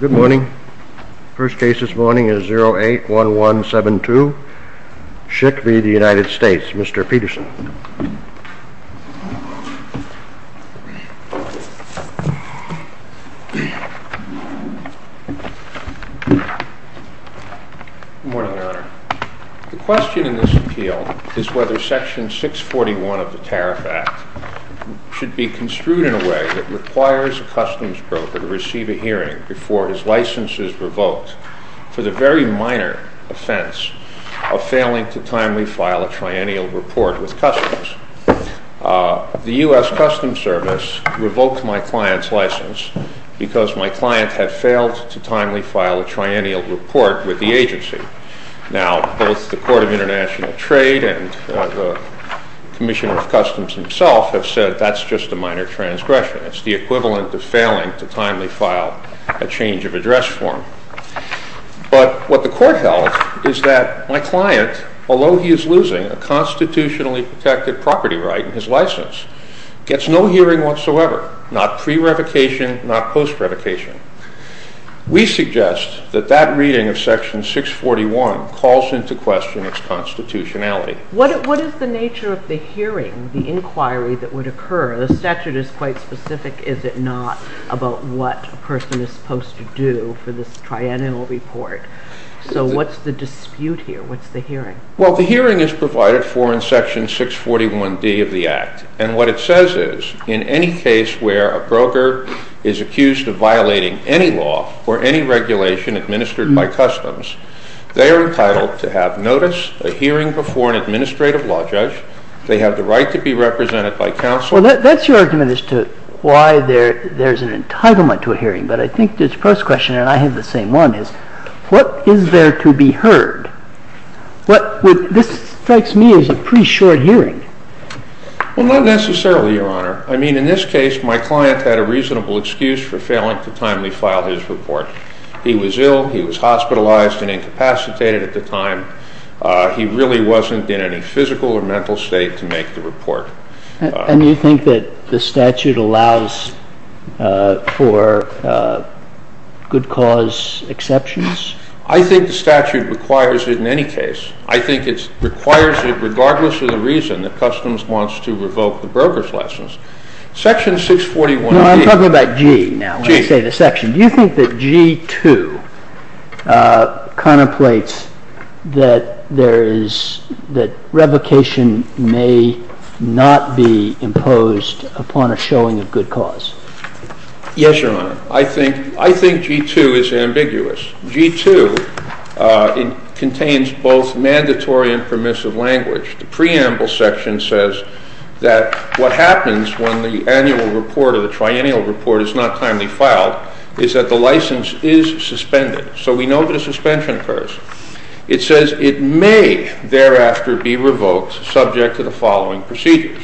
Good morning. First case this morning is 081172, Schick v. United States. Mr. Peterson. Good morning, Your Honor. The question in this appeal is whether Section 641 of the Tariff Act should be construed in a way that requires a customs broker to receive a hearing before his license is revoked for the very minor offense of failing to timely file a change of address form. The U.S. Customs Service revoked my client's license because my client had failed to timely file a triennial report with the agency. Now, both the Court of International Trade and the Commissioner of Customs himself have said that's just a minor transgression. It's the equivalent of failing to timely file a change of address form. But what the court held is that my client, although he is losing a constitutionally protected property right in his license, gets no hearing whatsoever, not pre-revocation, not post-revocation. We suggest that that reading of Section 641 calls into question its constitutionality. What is the nature of the hearing, the inquiry that would occur? The statute is quite specific, is it not, about what a person is supposed to do for this triennial report? So what's the dispute here? What's the hearing? Well, the hearing is provided for in Section 641D of the Act. And what it says is, in any case where a broker is accused of violating any law or any regulation administered by customs, they are entitled to have notice, a hearing before an administrative law judge. They have the right to be represented by counsel. Well, that's your argument as to why there is an entitlement to a hearing. But I think this first question, and I have the same one, is what is there to be heard? This strikes me as a pretty short hearing. Well, not necessarily, Your Honor. I mean, in this case, my client had a reasonable excuse for failing to timely file his report. He was ill. He was hospitalized and incapacitated at the time. He really wasn't in a physical or mental state to make the report. And you think that the statute allows for good cause exceptions? I think the statute requires it in any case. I think it requires it regardless of the reason that customs wants to revoke the broker's license. Section 641D No, I'm talking about G now, when I say the section. Do you think that G2 contemplates that revocation may not be imposed upon a showing of good cause? Yes, Your Honor. I think G2 is ambiguous. G2 contains both mandatory and permissive language. The preamble section says that what happens when the annual report or the triennial report is not timely filed is that the license is suspended. So we know that a suspension occurs. It says it may thereafter be revoked subject to the following procedures.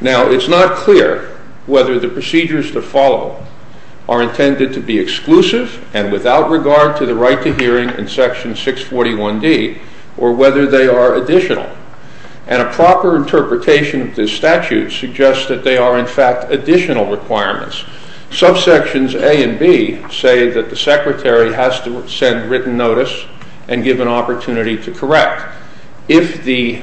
Now, it's not clear whether the procedures to follow are intended to be exclusive and without regard to the right to hearing in Section 641D or whether they are additional. And a proper interpretation of this statute suggests that they are, in fact, additional requirements. Subsections A and B say that the secretary has to send written notice and give an opportunity to correct. If the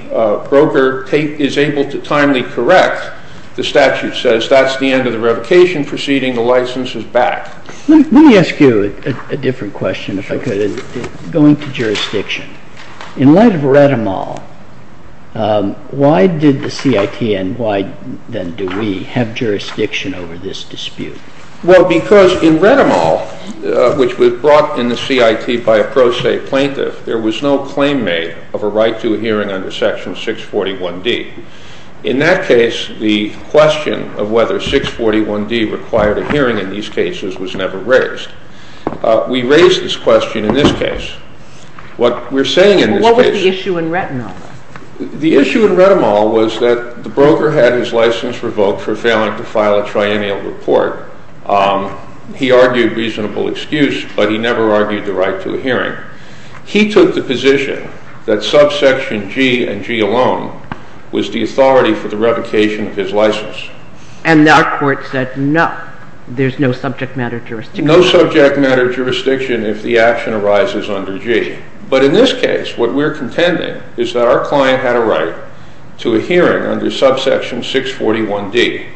broker is able to timely correct, the statute says that's the end of the revocation proceeding. The license is back. Let me ask you a different question, if I could. Going to jurisdiction, in light of this dispute. Well, because in RetiMol, which was brought in the CIT by a pro se plaintiff, there was no claim made of a right to a hearing under Section 641D. In that case, the question of whether 641D required a hearing in these cases was never raised. We raised this question in this case. What we're saying in this case Well, what was the issue in RetiMol? The issue in RetiMol was that the broker had his license revoked for failing to file a triennial report. He argued reasonable excuse, but he never argued the right to a hearing. He took the position that subsection G and G alone was the authority for the revocation of his license. And our court said no, there's no subject matter jurisdiction. No subject matter jurisdiction if the action arises under G. But in this case, what we're contending is that our client had a right to a hearing under subsection 641D.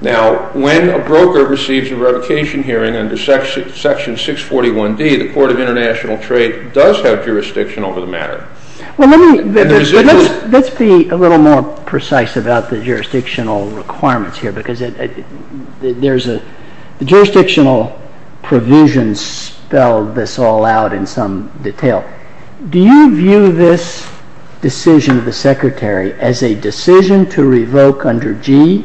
Now, when a broker receives a revocation hearing under Section 641D, the Court of International Trade does have jurisdiction over the matter. Let's be a little more precise about the jurisdictional requirements here, because the jurisdictional provisions spell this all out in some detail. Do you view this decision of the Secretary as a decision to revoke under G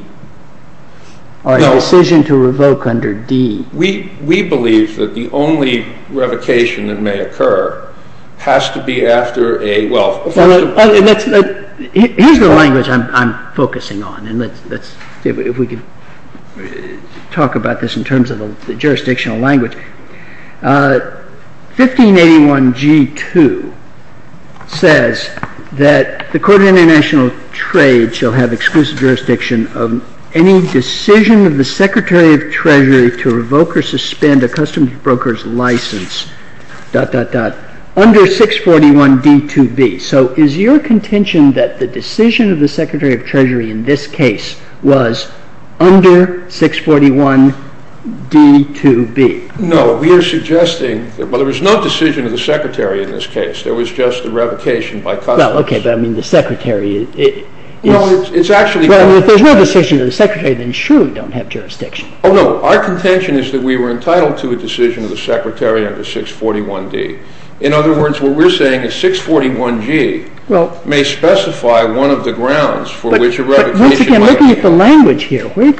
or a decision to revoke under D? We believe that the only revocation that may occur has to be after a, well, Here's the language I'm focusing on, and let's see if we can talk about this in terms of the jurisdictional language. 1581G2 says that the Court of International Trade shall have exclusive jurisdiction of any decision of the Secretary of Treasury to revoke or suspend a customs broker's license under 641D2B. So is your contention that the decision of the Secretary of Treasury in this case was under 641D2B? No. We are suggesting, well, there was no decision of the Secretary in this case. There was just a revocation by customs. Well, okay, but I mean, the Secretary is... Well, it's actually... Well, if there's no decision of the Secretary, then sure we don't have jurisdiction. Oh, no. Our contention is that we were entitled to a decision of the Secretary under 641D. In other words, what we're saying is 641G may specify one of the grounds for which a revocation... Once again, looking at the language here, where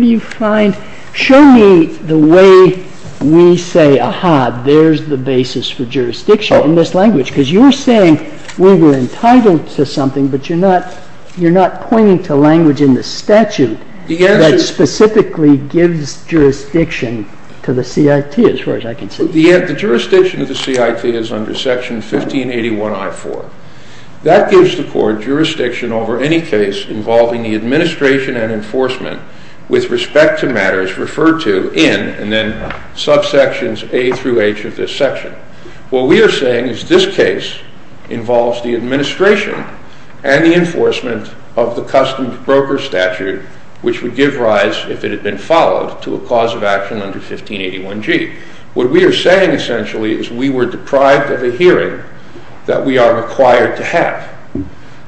do you find... Show me the way we say, aha, there's the basis for jurisdiction in this language, because you're saying we were entitled to something, but you're not pointing to language in the statute... The answer... ...that specifically gives jurisdiction to the CIT, as far as I can see. The jurisdiction of the CIT is under Section 1581I4. That gives the Court jurisdiction over any case involving the administration and enforcement with respect to matters referred to in and then subsections A through H of this section. What we are saying is this case involves the administration and the enforcement of the custom broker statute, which would give rise, if it had been followed, to a cause of action under 1581G. What we are saying, essentially, is we were deprived of a hearing that we are required to have,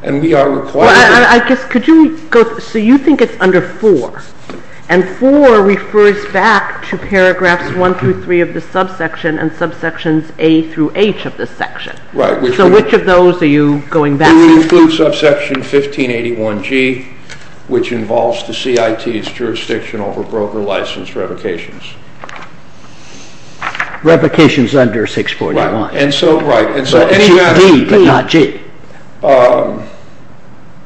and we are required... I guess, could you go... So you think it's under 4, and 4 refers back to paragraphs 1 through 3 of the subsection and subsections A through H of this section. Right. So which of those are you going back to? We include subsection 1581G, which involves the CIT's jurisdiction over broker license revocations. Revocations under 641. Right. And so... G, but not G.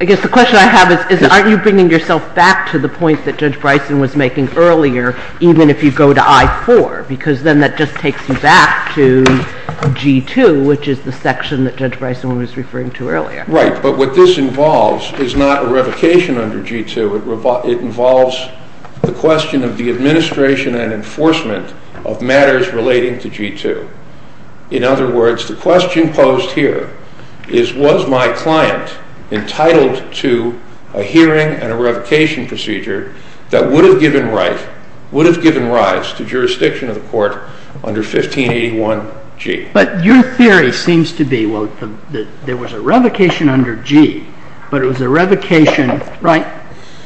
The question I have is, aren't you bringing yourself back to the point that Judge Bryson was making earlier, even if you go to I4? Because then that just takes you back to G2, which is the section that Judge Bryson was referring to earlier. Right. But what this involves is not a revocation under G2. It involves the question of the administration and enforcement of matters relating to G2. In other words, the question posed here is, was my client entitled to a hearing and a revocation procedure that would have given rise to jurisdiction of the court under 1581G? But your theory seems to be, well, there was a revocation under G, but it was a revocation... Right.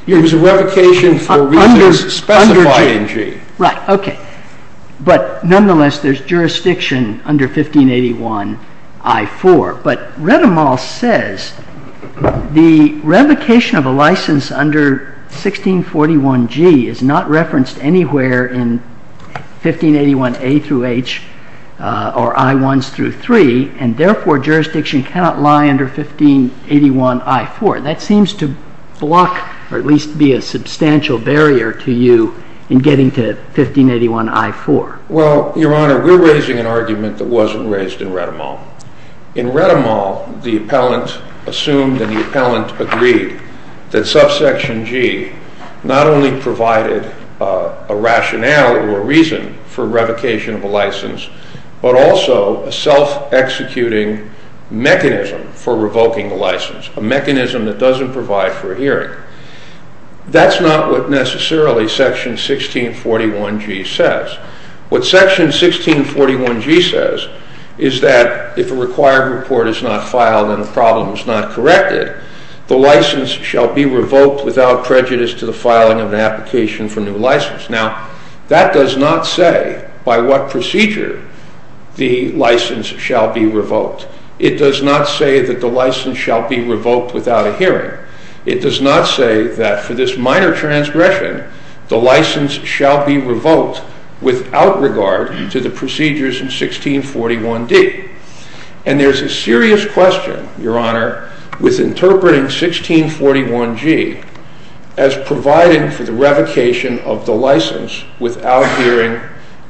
It was a revocation for reasons specified in G. Right. Okay. But nonetheless, there's jurisdiction under 1581I4. But Retemal says the revocation of a license under 1641G is not referenced anywhere in 1581A through H or I1s through 3, and therefore, jurisdiction cannot lie under 1581I4. That seems to block, or at least be a substantial barrier to you in getting to 1581I4. Well, Your Honor, we're raising an argument that wasn't raised in Retemal. In Retemal, the appellant assumed and the appellant agreed that subsection G not only provided a rationale or a reason for revocation of a license, but also a self-executing mechanism for revoking the license, a mechanism that doesn't provide for a hearing. That's not what necessarily section 1641G says. What section 1641G says is that if a required report is not filed and the problem is not corrected, the license shall be revoked without prejudice to the filing of an application for new license. Now, that does not say by what procedure the license shall be revoked. It does not say that the license shall be revoked without a hearing. It does not say that for this minor transgression, the license shall be revoked without regard to the procedures in 1641D. And there's a serious question, Your Honor, with interpreting 1641G as providing for the revocation of the license without hearing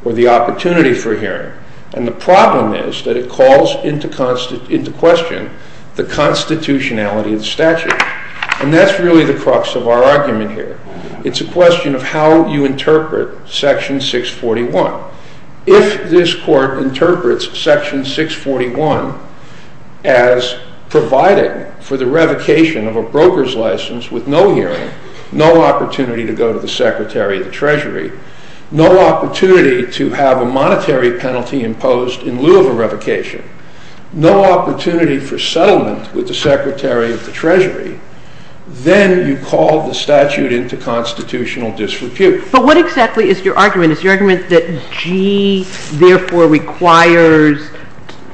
or the opportunity for hearing. And the problem is that it calls into question the constitutionality of the statute. And that's really the crux of our argument here. It's a question of how you interpret section 641. If this court interprets section 641 as providing for the revocation of a broker's license with no hearing, no opportunity to go to the Secretary of the Treasury, no opportunity to have a monetary penalty imposed in lieu of a no opportunity for settlement with the Secretary of the Treasury, then you call the statute into constitutional disrepute. But what exactly is your argument? Is your argument that G therefore requires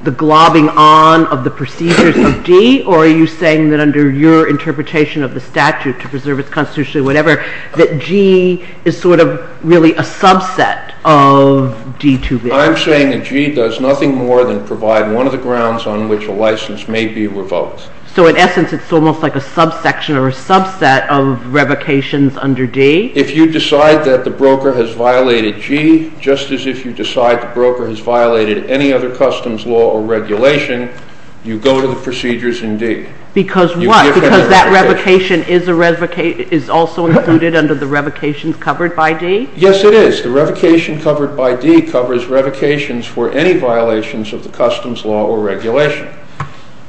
the globbing on of the procedures of D? Or are you saying that under your interpretation of the statute to preserve its constitution, whatever, that G is sort of really a subset of D? I'm saying that G does nothing more than provide one of the grounds on which a license may be revoked. So in essence, it's almost like a subsection or a subset of revocations under D? If you decide that the broker has violated G, just as if you decide the broker has violated any other customs law or regulation, you go to the procedures in D. Because what? Because that revocation is also included under the revocations covered by D? Yes, it is. The revocation covered by D covers revocations for any violations of the customs law or regulation.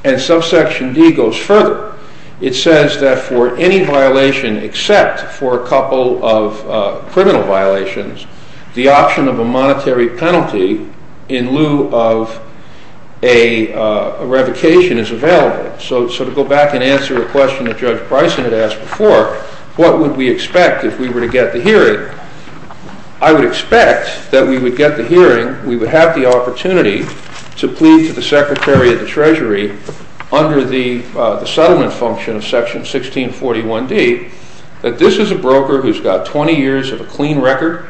And subsection D goes further. It says that for any violation except for a couple of criminal violations, the option of a monetary penalty in lieu of a revocation is available. So to go back and answer a question that Judge Bryson had asked before, what would we expect if we were to get the hearing? I would expect that we would get the hearing, we would have the opportunity to plead to the Secretary of the Treasury under the settlement function of section 1641D, that this is a broker who's got 20 years of a clean record.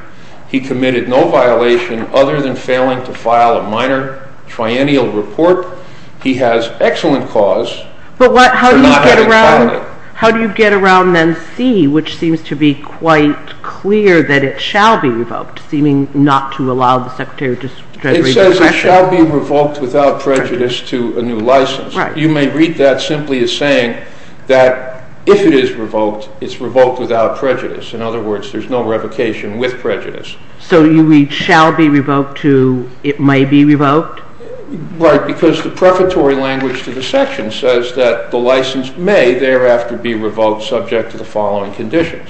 He committed no violation other than failing to file a minor triennial report. He has excellent cause. But what, how do you get around, how do you get around then C, which seems to be quite clear that it shall be revoked, seeming not to allow the Secretary of the Treasury discretion? It says it shall be revoked without prejudice to a new license. You may read that simply as saying that if it is revoked, it's revoked without prejudice. In other words, there's no revocation with prejudice. So you read shall be revoked to it may be revoked? Right, because the prefatory language to the section says that the license may thereafter be revoked subject to the following conditions.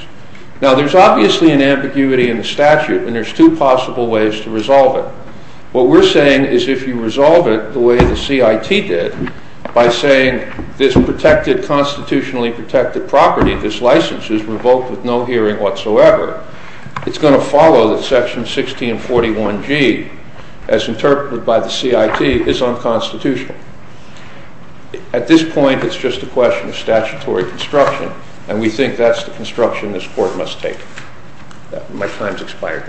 Now there's obviously an ambiguity in the statute and there's two possible ways to resolve it. What we're saying is if you resolve it the way the CIT did by saying this protected constitutionally protected property, this license is revoked with no hearing whatsoever, it's going to follow that section 1641G as interpreted by the CIT is unconstitutional. At this point, it's just a question of statutory construction and we think that's the construction this court must take. My time's expired.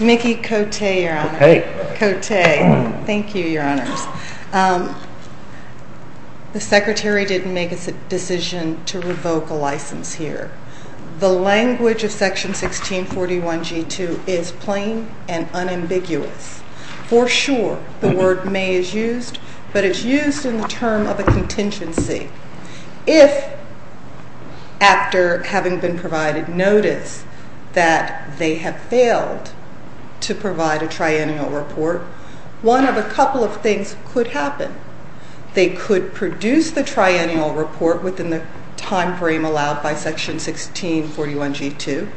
Mickey Cote, your honor. Thank you, your honors. The secretary didn't make a decision to revoke a license here. The language of section 1641G2 is plain and unambiguous. For sure, the word may is used, but it's used in the term of a contingency. If after having been provided notice that they have failed to provide a triennial report, one of a couple of things could happen. They could produce the triennial report within the time frame allowed by section 1641G2,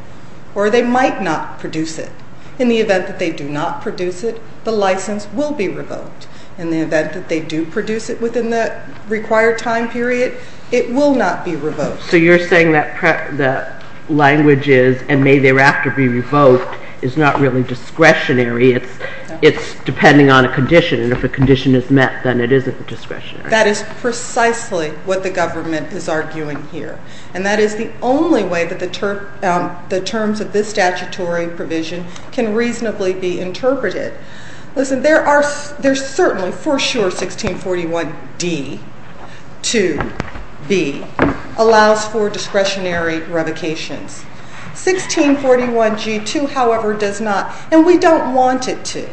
or they might not produce it. In the event that they do not produce it, the license will be revoked. In the event that they do produce it within the required time period, it will not be revoked. So you're saying that the language is and may thereafter be revoked is not really discretionary. It's depending on a condition and if a condition is met, then it isn't discretionary. That is precisely what the government is arguing here and that is the only way that the terms of this statutory provision can reasonably be interpreted. Listen, there are, there's certainly for sure 1641D2B allows for discretionary revocations. 1641G2, however, does not and we don't want it to.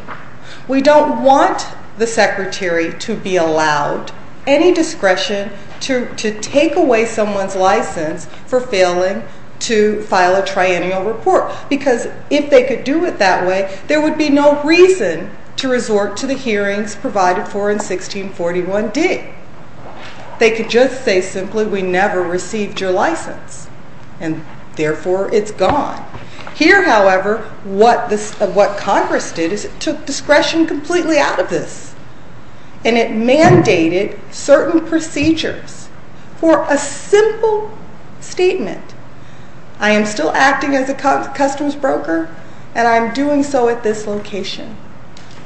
We don't want the secretary to be allowed any discretion to take away someone's license for failing to file a triennial report because if they could do it that way, there would be no reason to resort to the hearings provided for in 1641D. They could just say simply, we never received your license and therefore it's gone. Here, however, what this, what Congress did is it took discretion completely out of this and it mandated certain procedures for a simple statement. I am still acting as a customs broker and I'm doing so at this location.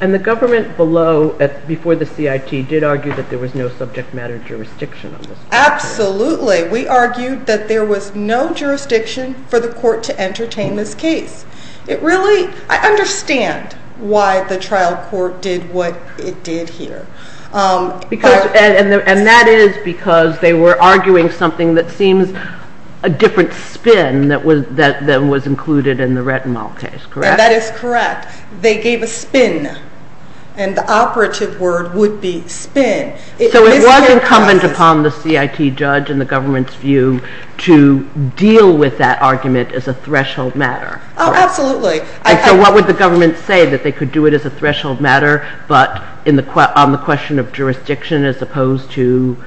And the government below, before the CIT did argue that there was no subject matter jurisdiction on this case. Absolutely. We argued that there was no jurisdiction for the court to entertain this case. It really, I understand why the trial court did what it did here. Because, and that is because they were arguing something that seems a different spin that was included in the Retinol case, correct? That is correct. They gave a spin and the operative word would be spin. So it was incumbent upon the CIT judge and the government's view to deal with that argument as a threshold matter? Oh, absolutely. So what would the government say that they could do it as a threshold matter, but on the question of jurisdiction as opposed to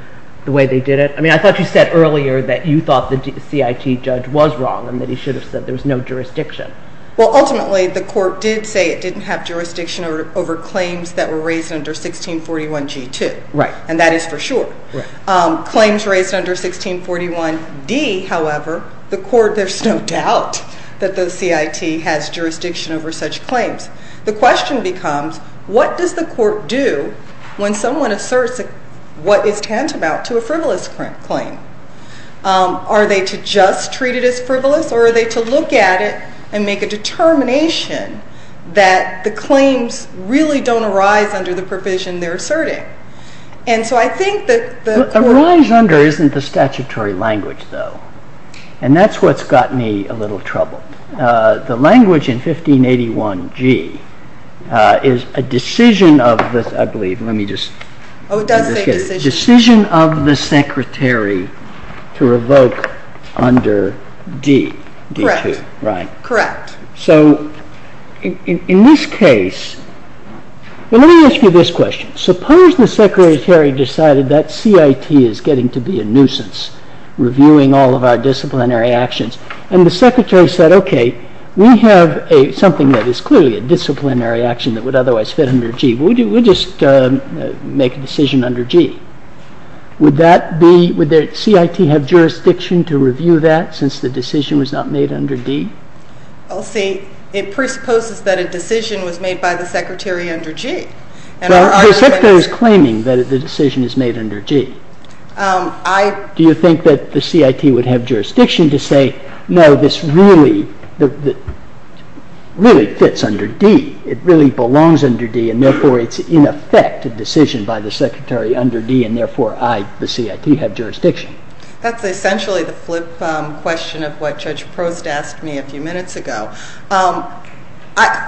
the way they did it? I mean, I thought you said earlier that you thought the CIT judge was wrong and that he should have said there was no jurisdiction. Well, ultimately the court did say it didn't have jurisdiction over claims that were raised under 1641 G2. Right. And that is for sure. Claims raised under 1641 D, however, the court, there's no doubt that the CIT has jurisdiction over such claims. The question becomes, what does the court do when someone asserts what is tantamount to a frivolous claim? Are they to just treat it as frivolous or are they to look at it and make a determination that the claims really don't arise under the provision they're asserting? And so I think that... Arise under isn't the statutory language though. And that's what's got me a little troubled. The language in 1581 G is a decision of the, I believe, let me just... Oh, it does say decision. Decision of the secretary to revoke under D, D2. Correct. Right. Correct. So in this case, well, let me ask you this question. Suppose the secretary decided that CIT is getting to be a nuisance reviewing all of our disciplinary actions and the secretary said, okay, we have something that is clearly a disciplinary action that would otherwise fit under G. We'll just make a decision under G. Would that be, would the CIT have jurisdiction to review that since the decision was not made under D? Well, see, it presupposes that a decision was made by the secretary under G. The secretary is claiming that the decision is made under G. Do you think that the CIT would have jurisdiction to say, no, this really, really fits under D. It really belongs under D and therefore it's in effect a decision by the secretary under D and therefore I, the CIT, have jurisdiction? That's essentially the flip question of what Judge Prost asked me a few minutes ago.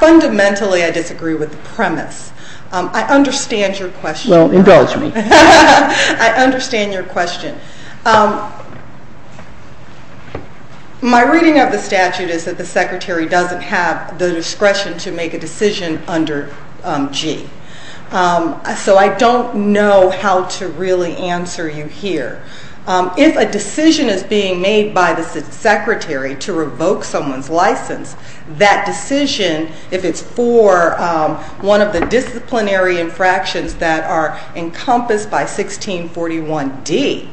Fundamentally, I disagree with the premise. I understand your question. Well, indulge me. I understand your question. My reading of the statute is that the secretary doesn't have the discretion to make a decision under G. So I don't know how to really answer you here. If a decision is being made by the secretary to revoke someone's license, that decision, if it's for one of the disciplinary infractions that are encompassed by 1641D,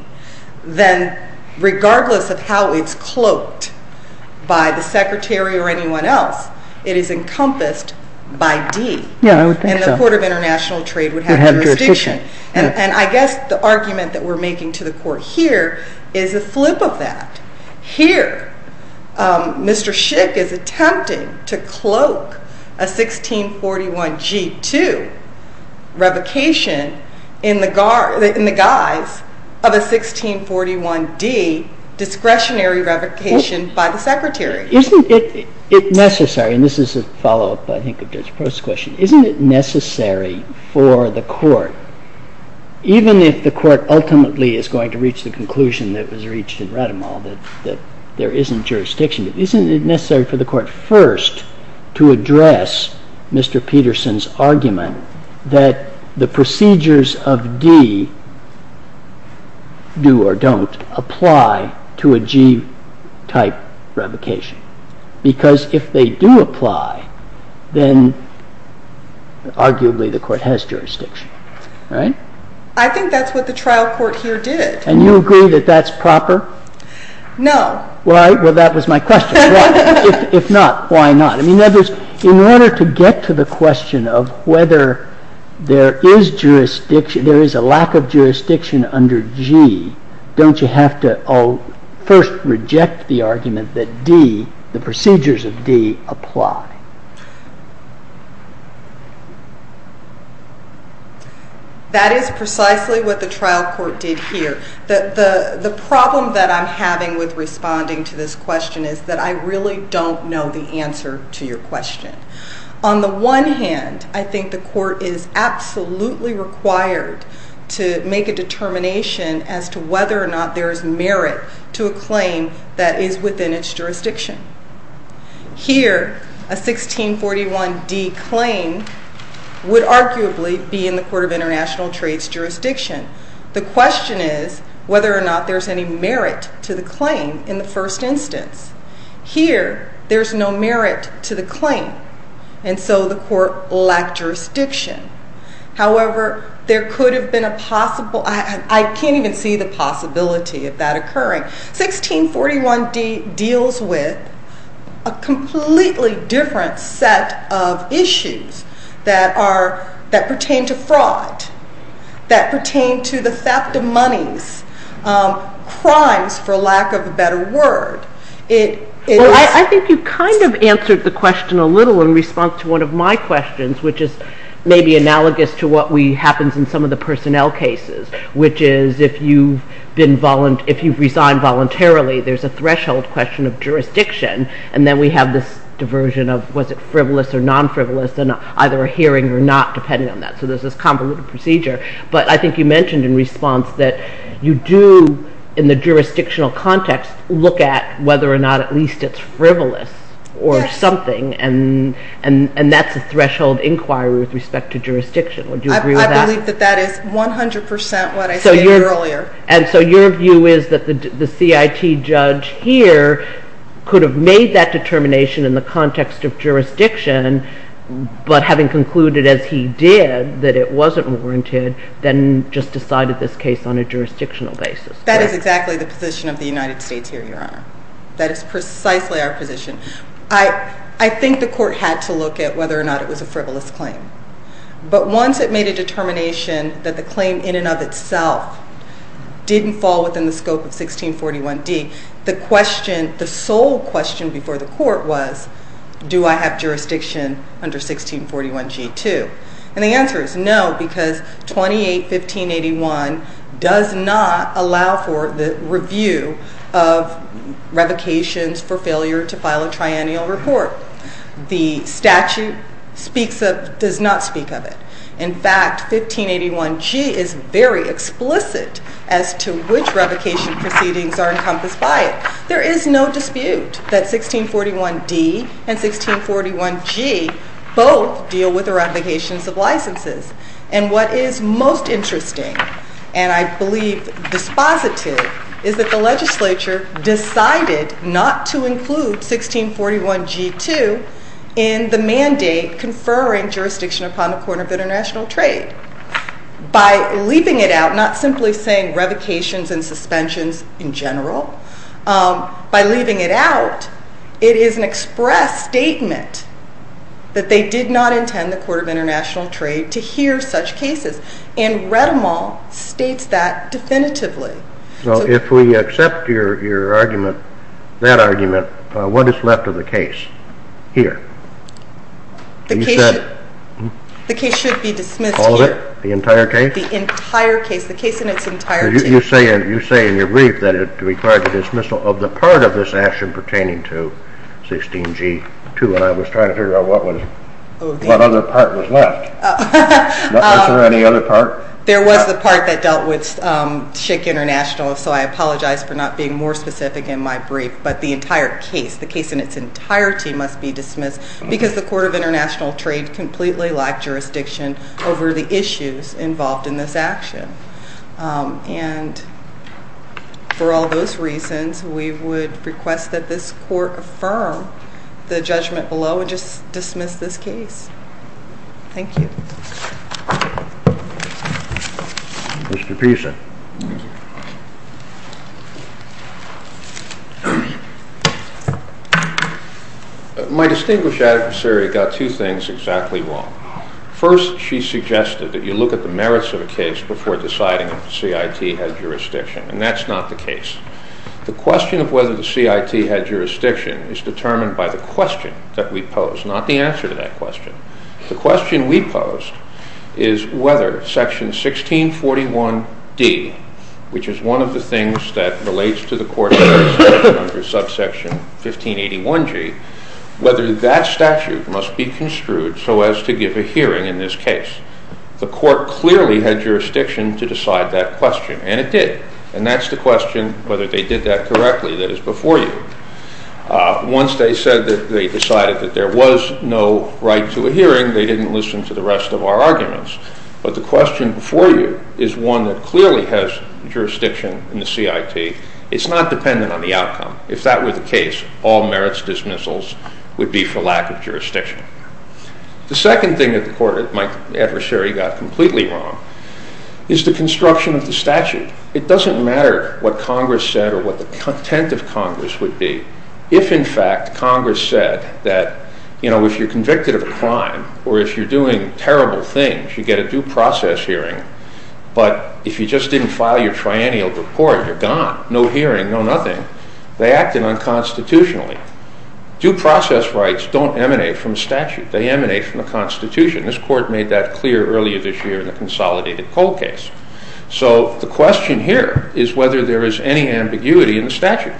then regardless of how it's cloaked by the secretary or anyone else, it is encompassed by D. Yeah, I would think so. And the Court of International Trade would have jurisdiction. And I guess the argument that we're making to the Court here is a flip of that. Here, Mr. Schick is attempting to cloak a 1641G2 revocation in the guise of a 1641D discretionary revocation by the secretary. Isn't it necessary, and this is a follow-up, I think, of Judge Prost's question, isn't it necessary for the Court, even if the Court ultimately is going to reach the conclusion that was reached in Rademal that there isn't jurisdiction, isn't it necessary for the Court first to address Mr. Peterson's argument that the procedures of D do or don't apply to a G-type revocation? Because if they do apply, then arguably the Court has jurisdiction, right? I think that's what the trial court here did. And you agree that that's proper? No. Well, that was my question. If not, why not? In order to get to the question of whether there is a lack of jurisdiction under G, don't you have to first reject the argument that D, the procedures of D, apply? That is precisely what the trial court did here. The problem that I'm having with responding to this question is that I really don't know the answer to your question. On the one hand, I think the Court is absolutely required to make a determination as to whether or not there is merit to a claim that is within its jurisdiction. Here, a 1641 D claim would arguably be in the Court of International Trades jurisdiction. The question is whether or not there's any merit to the claim in the first instance. Here, there's no merit to the claim, and so the Court lacked jurisdiction. However, there could have been a possible... I can't even see the possibility of that occurring. 1641 D deals with a completely different set of issues that pertain to fraud, that pertain to the theft of monies, crimes for lack of a better word. I think you kind of answered the question a little in response to one of my questions, which is maybe analogous to what happens in some of the personnel cases, which is if you've resigned voluntarily, there's a threshold question of jurisdiction, and then we have this diversion of was it frivolous or non-frivolous, and either a hearing or not, depending on that. So there's convoluted procedure, but I think you mentioned in response that you do, in the jurisdictional context, look at whether or not at least it's frivolous or something, and that's a threshold inquiry with respect to jurisdiction. Would you agree with that? I believe that that is 100% what I stated earlier. So your view is that the CIT judge here could have made that determination in the context of jurisdiction, but having concluded as he did that it wasn't warranted, then just decided this case on a jurisdictional basis. That is exactly the position of the United States here, your honor. That is precisely our position. I think the court had to look at whether or not it was a frivolous claim, but once it made a determination that the claim in and of itself didn't fall within the scope of 1641D, the question, the sole question before the court was do I have jurisdiction under 1641G too? And the answer is no, because 281581 does not allow for the review of revocations for failure to file a triennial report. The statute speaks of, does not explicitly as to which revocation proceedings are encompassed by it. There is no dispute that 1641D and 1641G both deal with the revocations of licenses, and what is most interesting, and I believe dispositive, is that the legislature decided not to include 1641G too in the mandate conferring jurisdiction upon the Court of International Trade. By leaving it out, not simply saying revocations and suspensions in general, by leaving it out, it is an express statement that they did not intend the Court of International Trade to hear such cases, and Redemauld states that definitively. So if we accept your argument, that argument, what is left of the case here? The case should be dismissed here. All of it? The entire case? The entire case, the case in its entirety. You say in your brief that it required the dismissal of the part of this action pertaining to 16G too, and I was trying to figure out what other part was left. Is there any other part? There was the part that dealt with Schick International, so I The case in its entirety must be dismissed because the Court of International Trade completely lacked jurisdiction over the issues involved in this action, and for all those reasons, we would request that this Court affirm the judgment below and just dismiss this case. Thank you. Mr. Pisa. My distinguished adversary got two things exactly wrong. First, she suggested that you look at the merits of a case before deciding if the CIT had jurisdiction, and that is not the case. The question of whether the CIT had jurisdiction is determined by the question that we pose, not the answer to that question. The question we posed is whether Section 1641D, which is one of the things that relates to the Court's decision under subsection 1581G, whether that statute must be construed so as to give a hearing in this case. The Court clearly had jurisdiction to decide that question, and it did, and that's the question whether they did that correctly that is before you. Once they said that they decided that there was no right to a hearing, they didn't listen to the rest of our arguments, but the question before you is one that clearly has jurisdiction in the CIT. It's not dependent on the outcome. If that were the case, all merits dismissals would be for lack of jurisdiction. The second thing that my adversary got completely wrong is the construction of the statute. It doesn't matter what Congress said or what the content of Congress would be, if in fact Congress said that if you're convicted of a crime or if you're doing terrible things, you get a due process hearing, but if you just didn't file your triennial report, you're gone. No hearing, no nothing. They acted unconstitutionally. Due process rights don't emanate from statute. They emanate from the Constitution. This Court made that clear earlier this year in the Consolidated Coal case. So the question here is whether there is any ambiguity in the statute.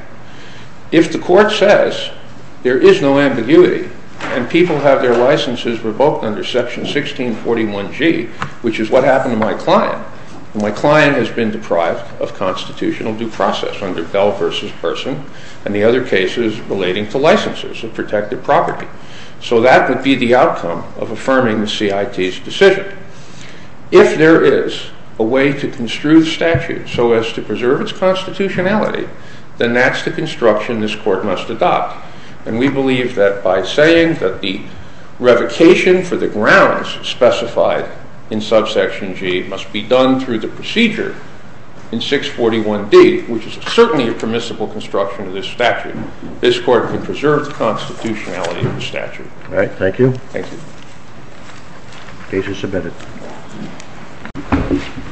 If the Court says there is no ambiguity and people have their licenses revoked under Section 1641G, which is what happened to my client, my client has been deprived of constitutional due process under Bell v. Person and the other cases relating to licenses of protected property. So that would be the outcome of affirming the CIT's decision. If there is a way to construe the statute so as to preserve its constitutionality, then that's the construction this Court must adopt. And we believe that by saying that the revocation for the grounds specified in Subsection G must be done through the procedure in 641D, which is certainly a permissible construction of this statute, All right, thank you. Case is submitted.